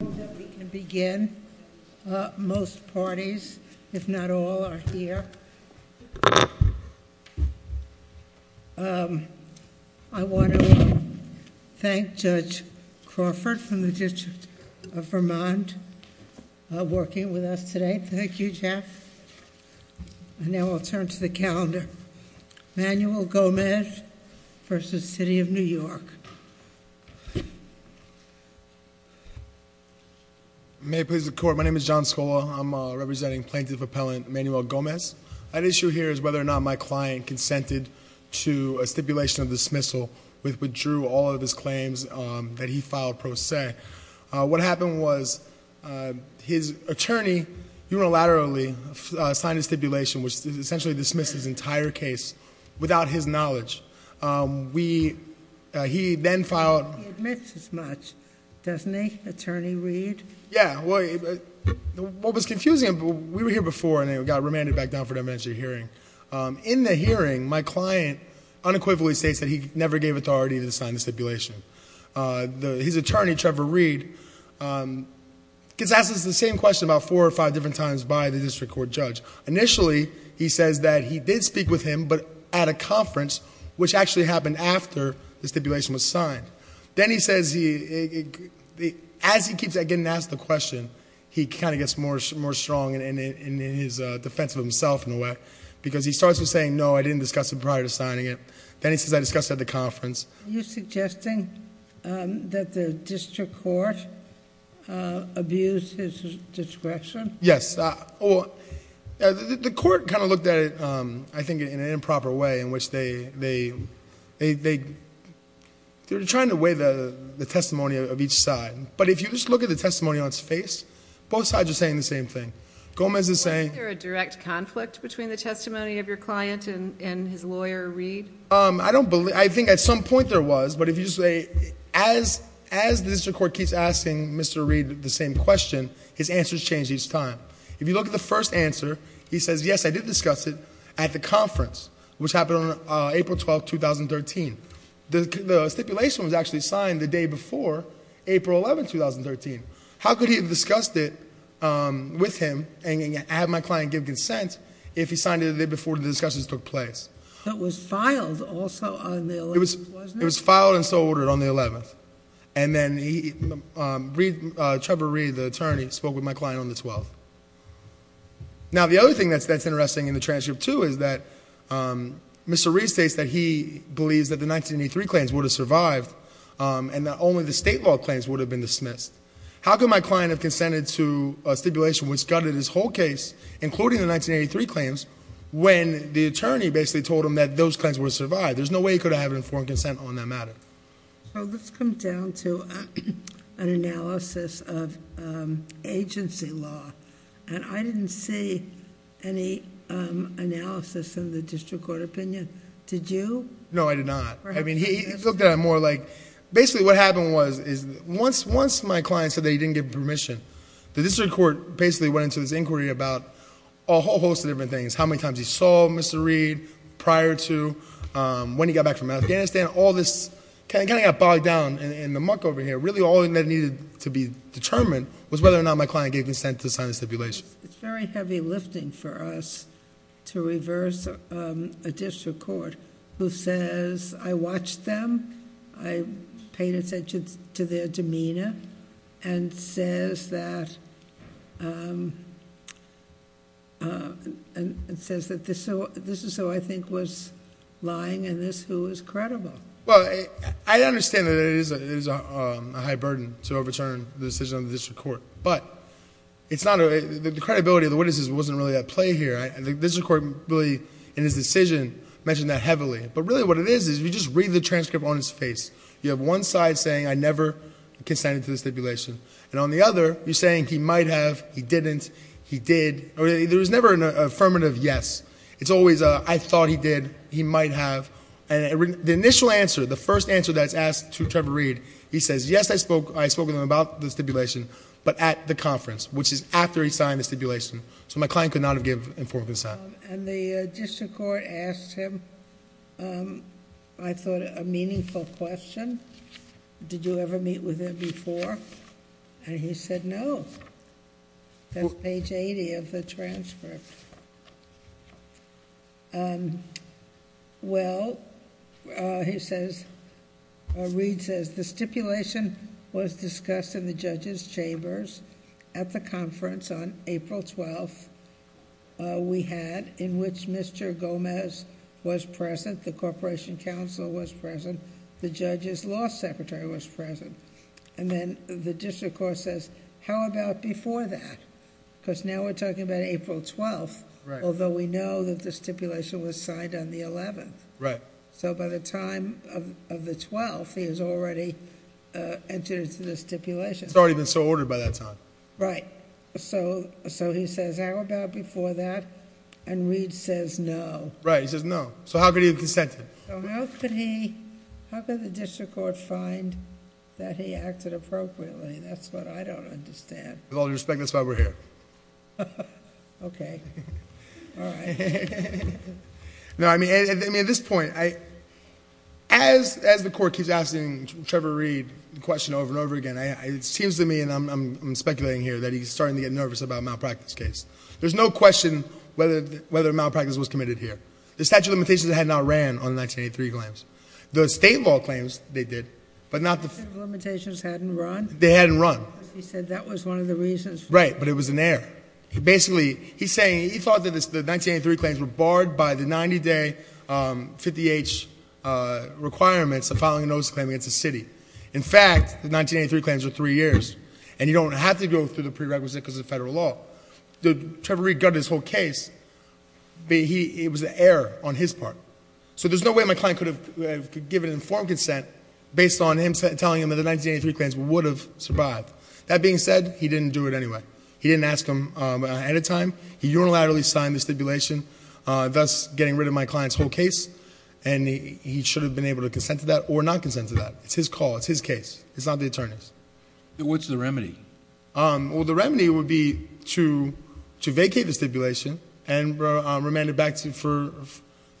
I hope that we can begin. Most parties, if not all, are here. I want to thank Judge Crawford from the District of Vermont for working with us today. Thank you, Jeff. And now I'll turn to the calendar. Manuel Gomez v. City of New York. May it please the court, my name is John Scola. I'm representing Plaintiff Appellant Manuel Gomez. An issue here is whether or not my client consented to a stipulation of dismissal, which withdrew all of his claims that he filed pro se. What happened was his attorney unilaterally signed a stipulation, which essentially dismissed his entire case without his knowledge. We, he then filed- He admits as much, doesn't he, Attorney Reed? Yeah, well, what was confusing, we were here before and then we got remanded back down for an evidentiary hearing. In the hearing, my client unequivocally states that he never gave authority to sign the stipulation. His attorney, Trevor Reed, gets asked the same question about four or five different times by the district court judge. Initially, he says that he did speak with him, but at a conference, which actually happened after the stipulation was signed. Then he says, as he keeps getting asked the question, he kind of gets more strong in his defense of himself, in a way. Because he starts with saying, no, I didn't discuss it prior to signing it. Then he says, I discussed it at the conference. Are you suggesting that the district court abuse his discretion? Yes, the court kind of looked at it, I think, in an improper way, in which they're trying to weigh the testimony of each side. But if you just look at the testimony on its face, both sides are saying the same thing. Gomez is saying- Was there a direct conflict between the testimony of your client and his lawyer, Reed? I don't believe, I think at some point there was. But if you say, as the district court keeps asking Mr. Reed the same question, his answers change each time, if you look at the first answer, he says, yes, I did discuss it at the conference, which happened on April 12th, 2013. The stipulation was actually signed the day before April 11th, 2013. How could he have discussed it with him, and have my client give consent if he signed it the day before the discussions took place? It was filed also on the 11th, wasn't it? It was filed and so ordered on the 11th. And then Trevor Reed, the attorney, spoke with my client on the 12th. Now the other thing that's interesting in the transcript too is that Mr. Reed states that he believes that the 1983 claims would have survived. And that only the state law claims would have been dismissed. How could my client have consented to a stipulation which gutted his whole case, including the 1983 claims, when the attorney basically told him that those claims would have survived? There's no way he could have informed consent on that matter. So let's come down to an analysis of agency law. And I didn't see any analysis in the district court opinion. Did you? No, I did not. I mean, he looked at it more like, basically what happened was, once my client said that he didn't give permission, the district court basically went into this inquiry about a whole host of different things. How many times he saw Mr. Reed prior to when he got back from Afghanistan, all this kind of got bogged down in the muck over here. Really all that needed to be determined was whether or not my client gave consent to sign the stipulation. It's very heavy lifting for us to reverse a district court who says, I watched them, I paid attention to their demeanor, and it says that this is who I think was lying, and this who is credible. Well, I understand that it is a high burden to overturn the decision of the district court, but the credibility of the witnesses wasn't really at play here. The district court really, in his decision, mentioned that heavily. But really what it is, is you just read the transcript on his face. You have one side saying, I never consented to the stipulation. And on the other, you're saying he might have, he didn't, he did. There was never an affirmative yes. It's always a, I thought he did, he might have. And the initial answer, the first answer that's asked to Trevor Reed, he says, yes, I spoke with him about the stipulation. But at the conference, which is after he signed the stipulation. So my client could not have given informed consent. And the district court asked him, I thought, a meaningful question. Did you ever meet with him before? And he said, no, that's page 80 of the transcript. Well, he says, or Reed says, the stipulation was discussed in the judge's chambers. At the conference on April 12th, we had, in which Mr. Gomez was present. The corporation counsel was present. The judge's law secretary was present. And then the district court says, how about before that? because now we're talking about April 12th, although we know that the stipulation was signed on the 11th. Right. So by the time of the 12th, he has already entered into the stipulation. It's already been so ordered by that time. Right. So he says, how about before that? And Reed says, no. Right, he says, no. So how could he have consented? So how could the district court find that he acted appropriately? That's what I don't understand. With all due respect, that's why we're here. OK. All right. Now, I mean, at this point, as the court keeps asking Trevor Reed the question over and over again, it seems to me, and I'm speculating here, that he's starting to get nervous about a malpractice case. There's no question whether malpractice was committed here. The statute of limitations had not ran on the 1983 claims. The state law claims, they did, but not the- The statute of limitations hadn't run? They hadn't run. He said that was one of the reasons. Right, but it was in there. Basically, he's saying, he thought that the 1983 claims were barred by the 90-day 50-H requirements of filing a notice of claim against the city. In fact, the 1983 claims are three years, and you don't have to go through the prerequisite because it's a federal law. Trevor Reed got his whole case, but it was an error on his part. So there's no way my client could have given informed consent based on him telling him that the 1983 claims would have survived. That being said, he didn't do it anyway. He didn't ask him ahead of time. He unilaterally signed the stipulation, thus getting rid of my client's whole case. And he should have been able to consent to that or not consent to that. It's his call, it's his case. It's not the attorney's. What's the remedy? Well, the remedy would be to vacate the stipulation and remand it back for,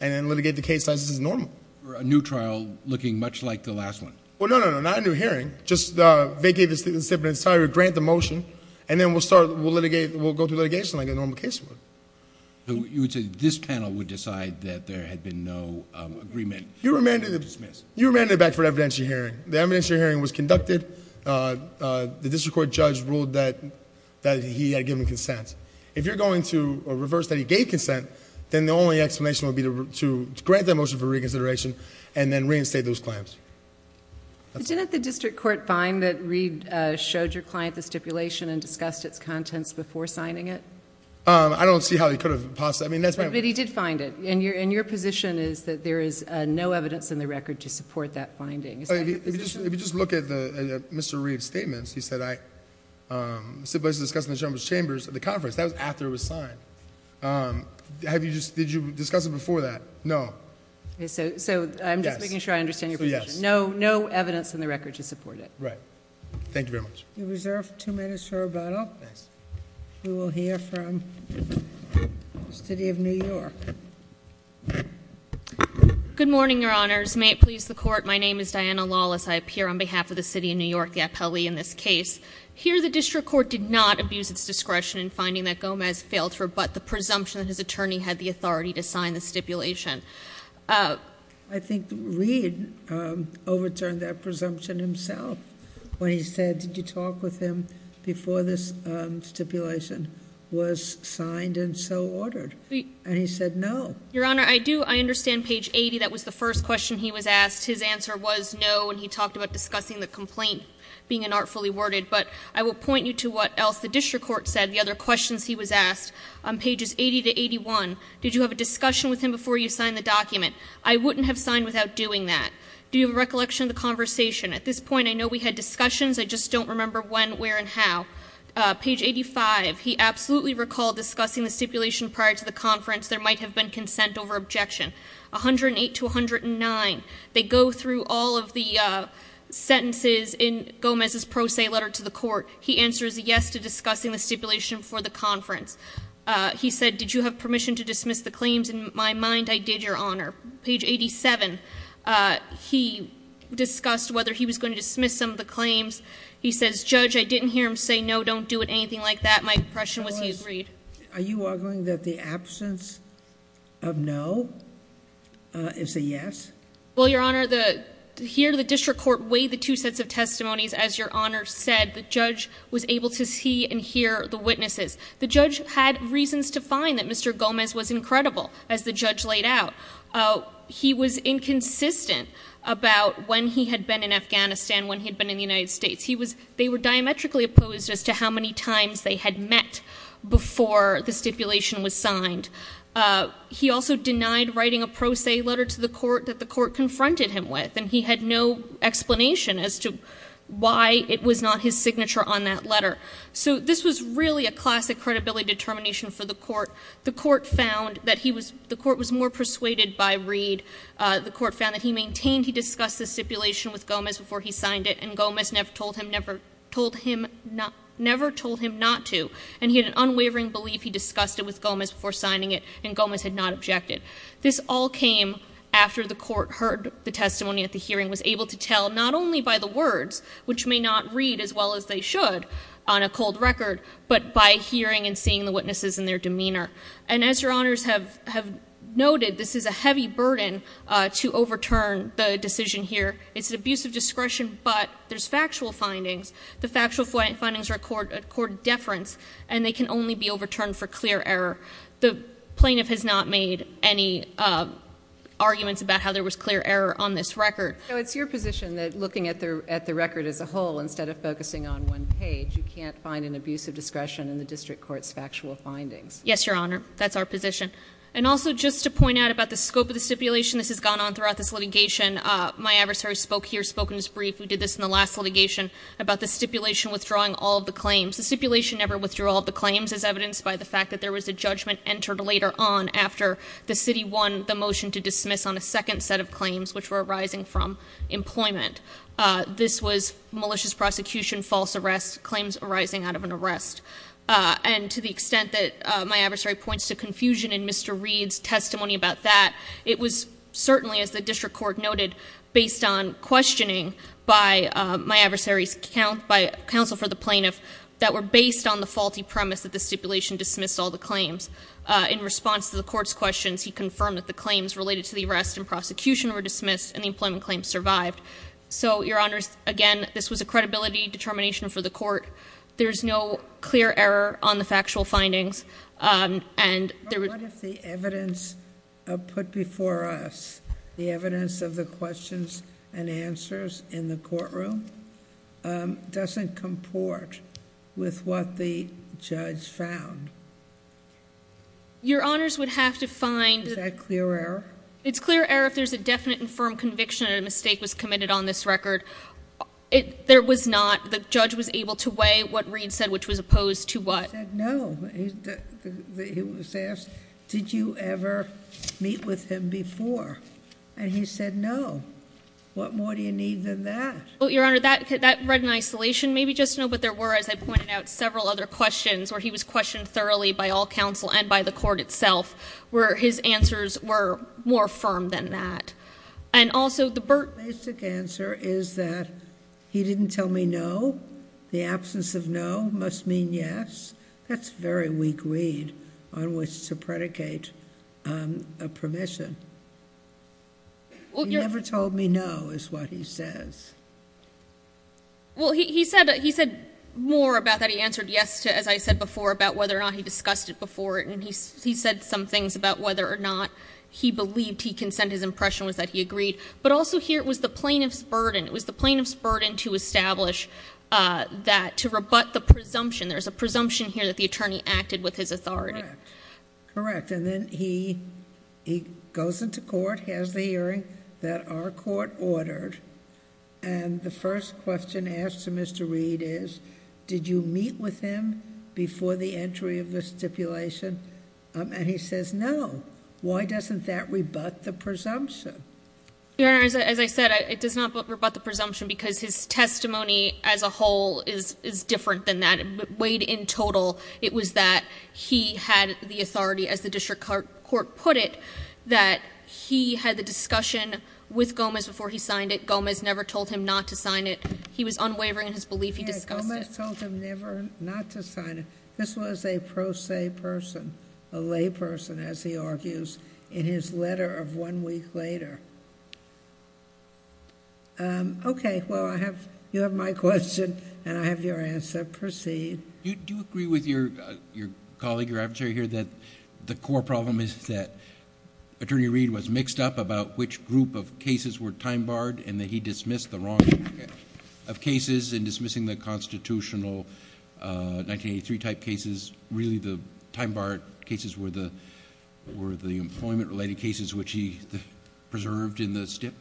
and then litigate the case as is normal. A new trial looking much like the last one. Well, no, no, no, not a new hearing. Just vacate the stipulation, grant the motion, and then we'll start, we'll litigate, we'll go through litigation like a normal case would. You would say this panel would decide that there had been no agreement. You remanded it back for evidentiary hearing. The evidentiary hearing was conducted, the district court judge ruled that he had given consent. If you're going to reverse that he gave consent, then the only explanation would be to grant that motion for reconsideration, and then reinstate those claims. Didn't the district court find that Reed showed your client the stipulation and discussed its contents before signing it? I don't see how he could have possibly, I mean that's my- But he did find it. And your position is that there is no evidence in the record to support that finding. Is that- If you just look at Mr. Reed's statements, he said I simply discussed it in the chambers of the conference. That was after it was signed. Have you just, did you discuss it before that? No. So I'm just making sure I understand your position. No evidence in the record to support it. Right. Thank you very much. You're reserved two minutes for rebuttal. We will hear from the city of New York. Good morning, your honors. May it please the court. My name is Diana Lawless. I appear on behalf of the city of New York, the appellee in this case. Here the district court did not abuse its discretion in finding that Gomez failed to rebut the presumption that his attorney had the authority to sign the stipulation. I think Reed overturned that presumption himself. When he said, did you talk with him before this stipulation was signed and so ordered? And he said no. Your honor, I do, I understand page 80, that was the first question he was asked. His answer was no, and he talked about discussing the complaint being inartfully worded. But I will point you to what else the district court said, the other questions he was asked. On pages 80 to 81, did you have a discussion with him before you signed the document? I wouldn't have signed without doing that. Do you have a recollection of the conversation? At this point, I know we had discussions, I just don't remember when, where, and how. Page 85, he absolutely recalled discussing the stipulation prior to the conference. There might have been consent over objection. 108 to 109, they go through all of the sentences in Gomez's pro se letter to the court. He answers yes to discussing the stipulation for the conference. He said, did you have permission to dismiss the claims? In my mind, I did, your honor. Page 87, he discussed whether he was going to dismiss some of the claims. He says, Judge, I didn't hear him say no, don't do it, anything like that. My impression was he agreed. Are you arguing that the absence of no is a yes? Well, your honor, here the district court weighed the two sets of testimonies, as your honor said, the judge was able to see and hear the witnesses. The judge had reasons to find that Mr. Gomez was incredible, as the judge laid out. He was inconsistent about when he had been in Afghanistan, when he had been in the United States. They were diametrically opposed as to how many times they had met before the stipulation was signed. He also denied writing a pro se letter to the court that the court confronted him with. And he had no explanation as to why it was not his signature on that letter. So this was really a classic credibility determination for the court. The court was more persuaded by Reed. The court found that he maintained he discussed the stipulation with Gomez before he signed it, and Gomez never told him not to. And he had an unwavering belief he discussed it with Gomez before signing it, and Gomez had not objected. This all came after the court heard the testimony at the hearing, was able to tell, not only by the words, which may not read as well as they should on a cold record, but by hearing and seeing the witnesses and their demeanor. And as your honors have noted, this is a heavy burden to overturn the decision here. It's an abuse of discretion, but there's factual findings. The factual findings record deference, and they can only be overturned for clear error. The plaintiff has not made any arguments about how there was clear error on this record. So it's your position that looking at the record as a whole, instead of focusing on one page, you can't find an abuse of discretion in the district court's factual findings. Yes, your honor. That's our position. And also, just to point out about the scope of the stipulation, this has gone on throughout this litigation. My adversary spoke here, spoke in his brief, we did this in the last litigation, about the stipulation withdrawing all of the claims. The stipulation never withdrew all of the claims, as evidenced by the fact that there was a judgment entered later on after the city won the motion to dismiss on a second set of claims, which were arising from employment. This was malicious prosecution, false arrest, claims arising out of an arrest. And to the extent that my adversary points to confusion in Mr. Reed's testimony about that, it was certainly, as the district court noted, based on questioning by my adversary's counsel for the plaintiff that were based on the faulty premise that the stipulation dismissed all the claims. In response to the court's questions, he confirmed that the claims related to the arrest and prosecution were dismissed and the employment claims survived. So, your honors, again, this was a credibility determination for the court. There's no clear error on the factual findings, and there was- What if the evidence put before us, the evidence of the questions and answers in the courtroom, doesn't comport with what the judge found? Your honors would have to find- Is that clear error? It's clear error if there's a definite and firm conviction that a mistake was committed on this record. There was not. The judge was able to weigh what Reed said, which was opposed to what? He said no. He was asked, did you ever meet with him before? And he said no. What more do you need than that? Well, your honor, that read in isolation. Maybe just know what there were, as I pointed out, several other questions where he was questioned thoroughly by all counsel and by the court itself, where his answers were more firm than that. And also, the Burt- The basic answer is that he didn't tell me no. The absence of no must mean yes. That's a very weak read on which to predicate a permission. He never told me no is what he says. Well, he said more about that. He answered yes to, as I said before, about whether or not he discussed it before. And he said some things about whether or not he believed he can send his impression was that he agreed. But also here, it was the plaintiff's burden. It was the plaintiff's burden to establish that, to rebut the presumption. There's a presumption here that the attorney acted with his authority. Correct, and then he goes into court, has the hearing. That our court ordered, and the first question asked to Mr. Reed is, did you meet with him before the entry of the stipulation? And he says no. Why doesn't that rebut the presumption? Your Honor, as I said, it does not rebut the presumption because his testimony as a whole is different than that. Weighed in total, it was that he had the authority, as the district court put it, that he had the discussion with Gomez before he signed it. Gomez never told him not to sign it. He was unwavering in his belief he discussed it. Gomez told him never not to sign it. This was a pro se person, a lay person, as he argues, in his letter of one week later. Okay, well, you have my question, and I have your answer. Proceed. Do you agree with your colleague, your adversary here, that the core problem is that Attorney Reed was mixed up about which group of cases were time barred, and that he dismissed the wrong of cases in dismissing the constitutional 1983 type cases. Really, the time barred cases were the employment related cases, which he preserved in the stip.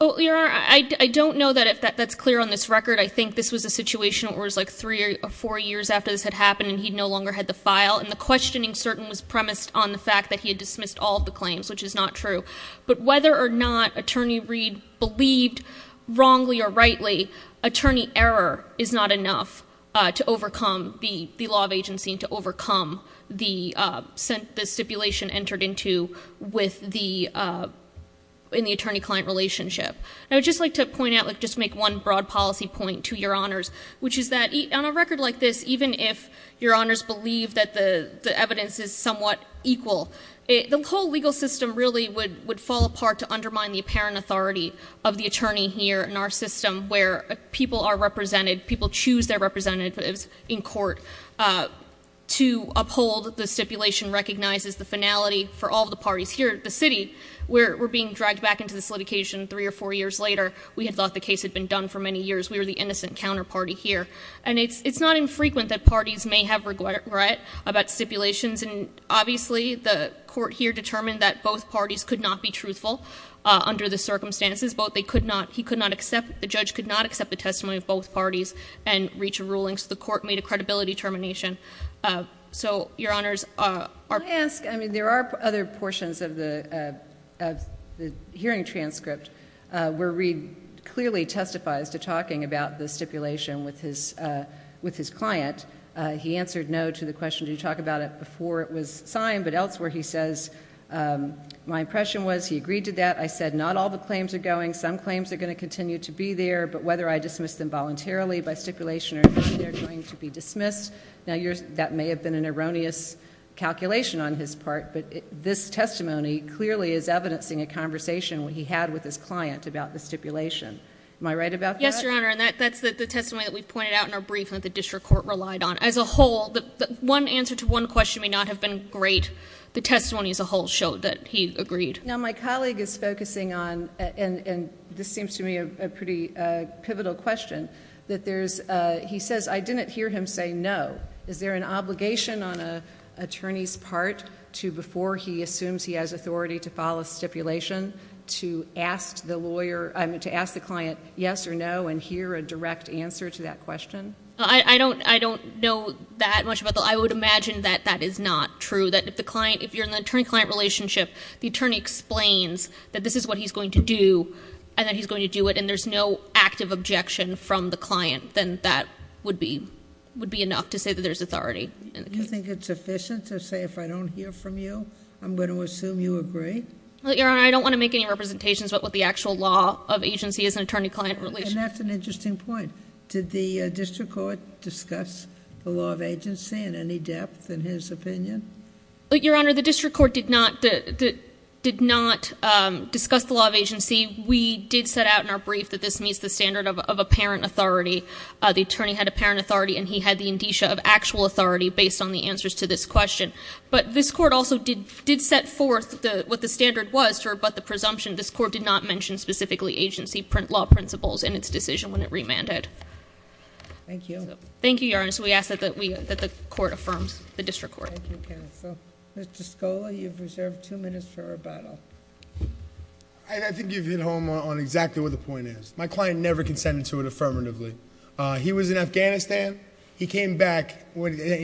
I don't know that that's clear on this record. I think this was a situation where it was like three or four years after this had happened, and he no longer had the file. And the questioning certain was premised on the fact that he had dismissed all of the claims, which is not true. But whether or not Attorney Reed believed wrongly or rightly, attorney error is not enough to overcome the law of agency and to overcome the stipulation entered into with the, In the attorney-client relationship. I would just like to point out, just make one broad policy point to your honors, which is that on a record like this, even if your honors believe that the evidence is somewhat equal, the whole legal system really would fall apart to undermine the apparent authority of the attorney here in our system, where people are represented, people choose their representatives in court to uphold the stipulation recognizes the finality for all the parties here at the city. We're being dragged back into this litigation three or four years later. We had thought the case had been done for many years. We were the innocent counterparty here. And it's not infrequent that parties may have regret about stipulations and obviously the court here determined that both parties could not be truthful under the circumstances. Both they could not, he could not accept, the judge could not accept the testimony of both parties and reach a ruling. So the court made a credibility termination. So, your honors, our- I ask, I mean, there are other portions of the hearing transcript where Reid clearly testifies to talking about the stipulation with his client. He answered no to the question, do you talk about it before it was signed? But elsewhere he says, my impression was, he agreed to that. I said, not all the claims are going. Some claims are going to continue to be there, but whether I dismiss them voluntarily by stipulation or not, they're going to be dismissed. Now, that may have been an erroneous calculation on his part, but this testimony clearly is evidencing a conversation he had with his client about the stipulation. Am I right about that? Yes, your honor, and that's the testimony that we pointed out in our brief that the district court relied on. As a whole, one answer to one question may not have been great. The testimony as a whole showed that he agreed. Now, my colleague is focusing on, and this seems to me a pretty pivotal question, that there's, he says, I didn't hear him say no. Is there an obligation on an attorney's part to, before he assumes he has authority to file a stipulation, to ask the client yes or no and hear a direct answer to that question? I don't know that much about the, I would imagine that that is not true. That if the client, if you're in an attorney-client relationship, the attorney explains that this is what he's going to do, and that he's going to do it. And there's no active objection from the client, then that would be enough to say that there's authority. Do you think it's sufficient to say if I don't hear from you, I'm going to assume you agree? Well, your honor, I don't want to make any representations about what the actual law of agency is in attorney-client relations. And that's an interesting point. Did the district court discuss the law of agency in any depth in his opinion? Your honor, the district court did not discuss the law of agency. We did set out in our brief that this meets the standard of apparent authority. The attorney had apparent authority, and he had the indicia of actual authority based on the answers to this question. But this court also did set forth what the standard was, but the presumption, this court did not mention specifically agency law principles in its decision when it remanded. Thank you. Thank you, your honor, so we ask that the court affirms, the district court. Thank you, counsel. Mr. Scola, you've reserved two minutes for rebuttal. I think you've hit home on exactly what the point is. My client never consented to it affirmatively. He was in Afghanistan. He came back, he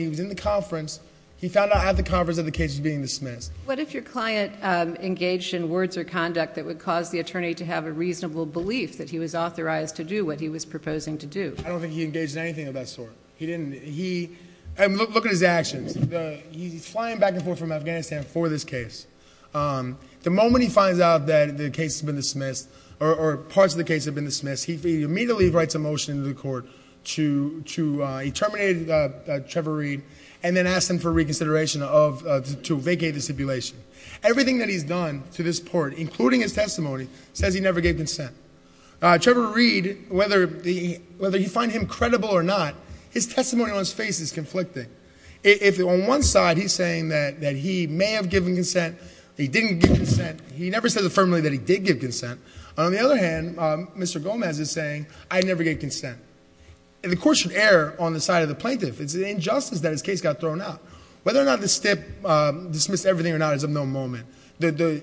was in the conference. He found out at the conference that the case was being dismissed. What if your client engaged in words or conduct that would cause the attorney to have a reasonable belief that he was authorized to do what he was proposing to do? I don't think he engaged in anything of that sort. He didn't, and look at his actions. He's flying back and forth from Afghanistan for this case. The moment he finds out that the case has been dismissed, or parts of the case have been dismissed, he immediately writes a motion to the court to, he terminated Trevor Reed, and then asked him for reconsideration to vacate the stipulation. Everything that he's done to this court, including his testimony, says he never gave consent. Trevor Reed, whether you find him credible or not, his testimony on his face is conflicting. If on one side he's saying that he may have given consent, he didn't give consent, he never said affirmatively that he did give consent. On the other hand, Mr. Gomez is saying, I never gave consent. The court should err on the side of the plaintiff. It's an injustice that his case got thrown out. Whether or not the stip dismissed everything or not is of no moment. The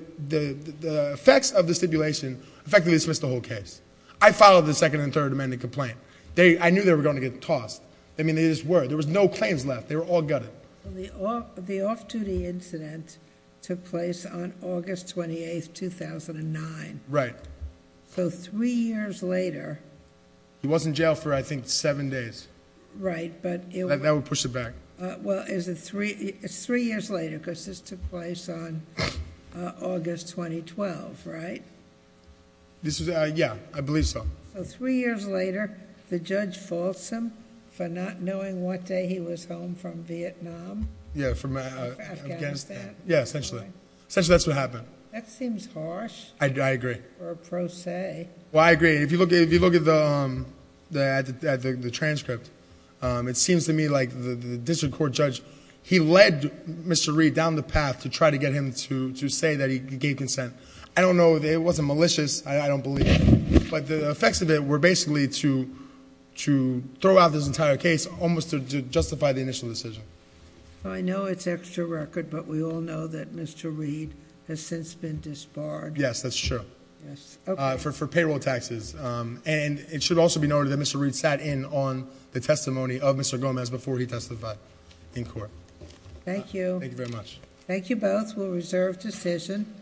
effects of the stipulation effectively dismissed the whole case. I followed the second and third amendment complaint. I knew they were going to get tossed. I mean, they just were. There was no claims left. They were all gutted. The off-duty incident took place on August 28th, 2009. Right. So three years later. He was in jail for, I think, seven days. Right, but it was- That would push it back. Well, it's three years later, because this took place on August 2012, right? This is, yeah, I believe so. So three years later, the judge false him for not knowing what day he was home from Vietnam. Yeah, from Afghanistan. Yeah, essentially. Essentially that's what happened. That seems harsh. I agree. Or a pro se. Well, I agree. If you look at the transcript, it seems to me like the district court judge, he led Mr. Reed down the path to try to get him to say that he gave consent. I don't know, it wasn't malicious, I don't believe. But the effects of it were basically to throw out this entire case, almost to justify the initial decision. I know it's extra record, but we all know that Mr. Reed has since been disbarred. Yes, that's true. Yes, okay. For payroll taxes. And it should also be noted that Mr. Reed sat in on the testimony of Mr. Gomez before he testified in court. Thank you. Thank you very much. Thank you both. We'll reserve decision.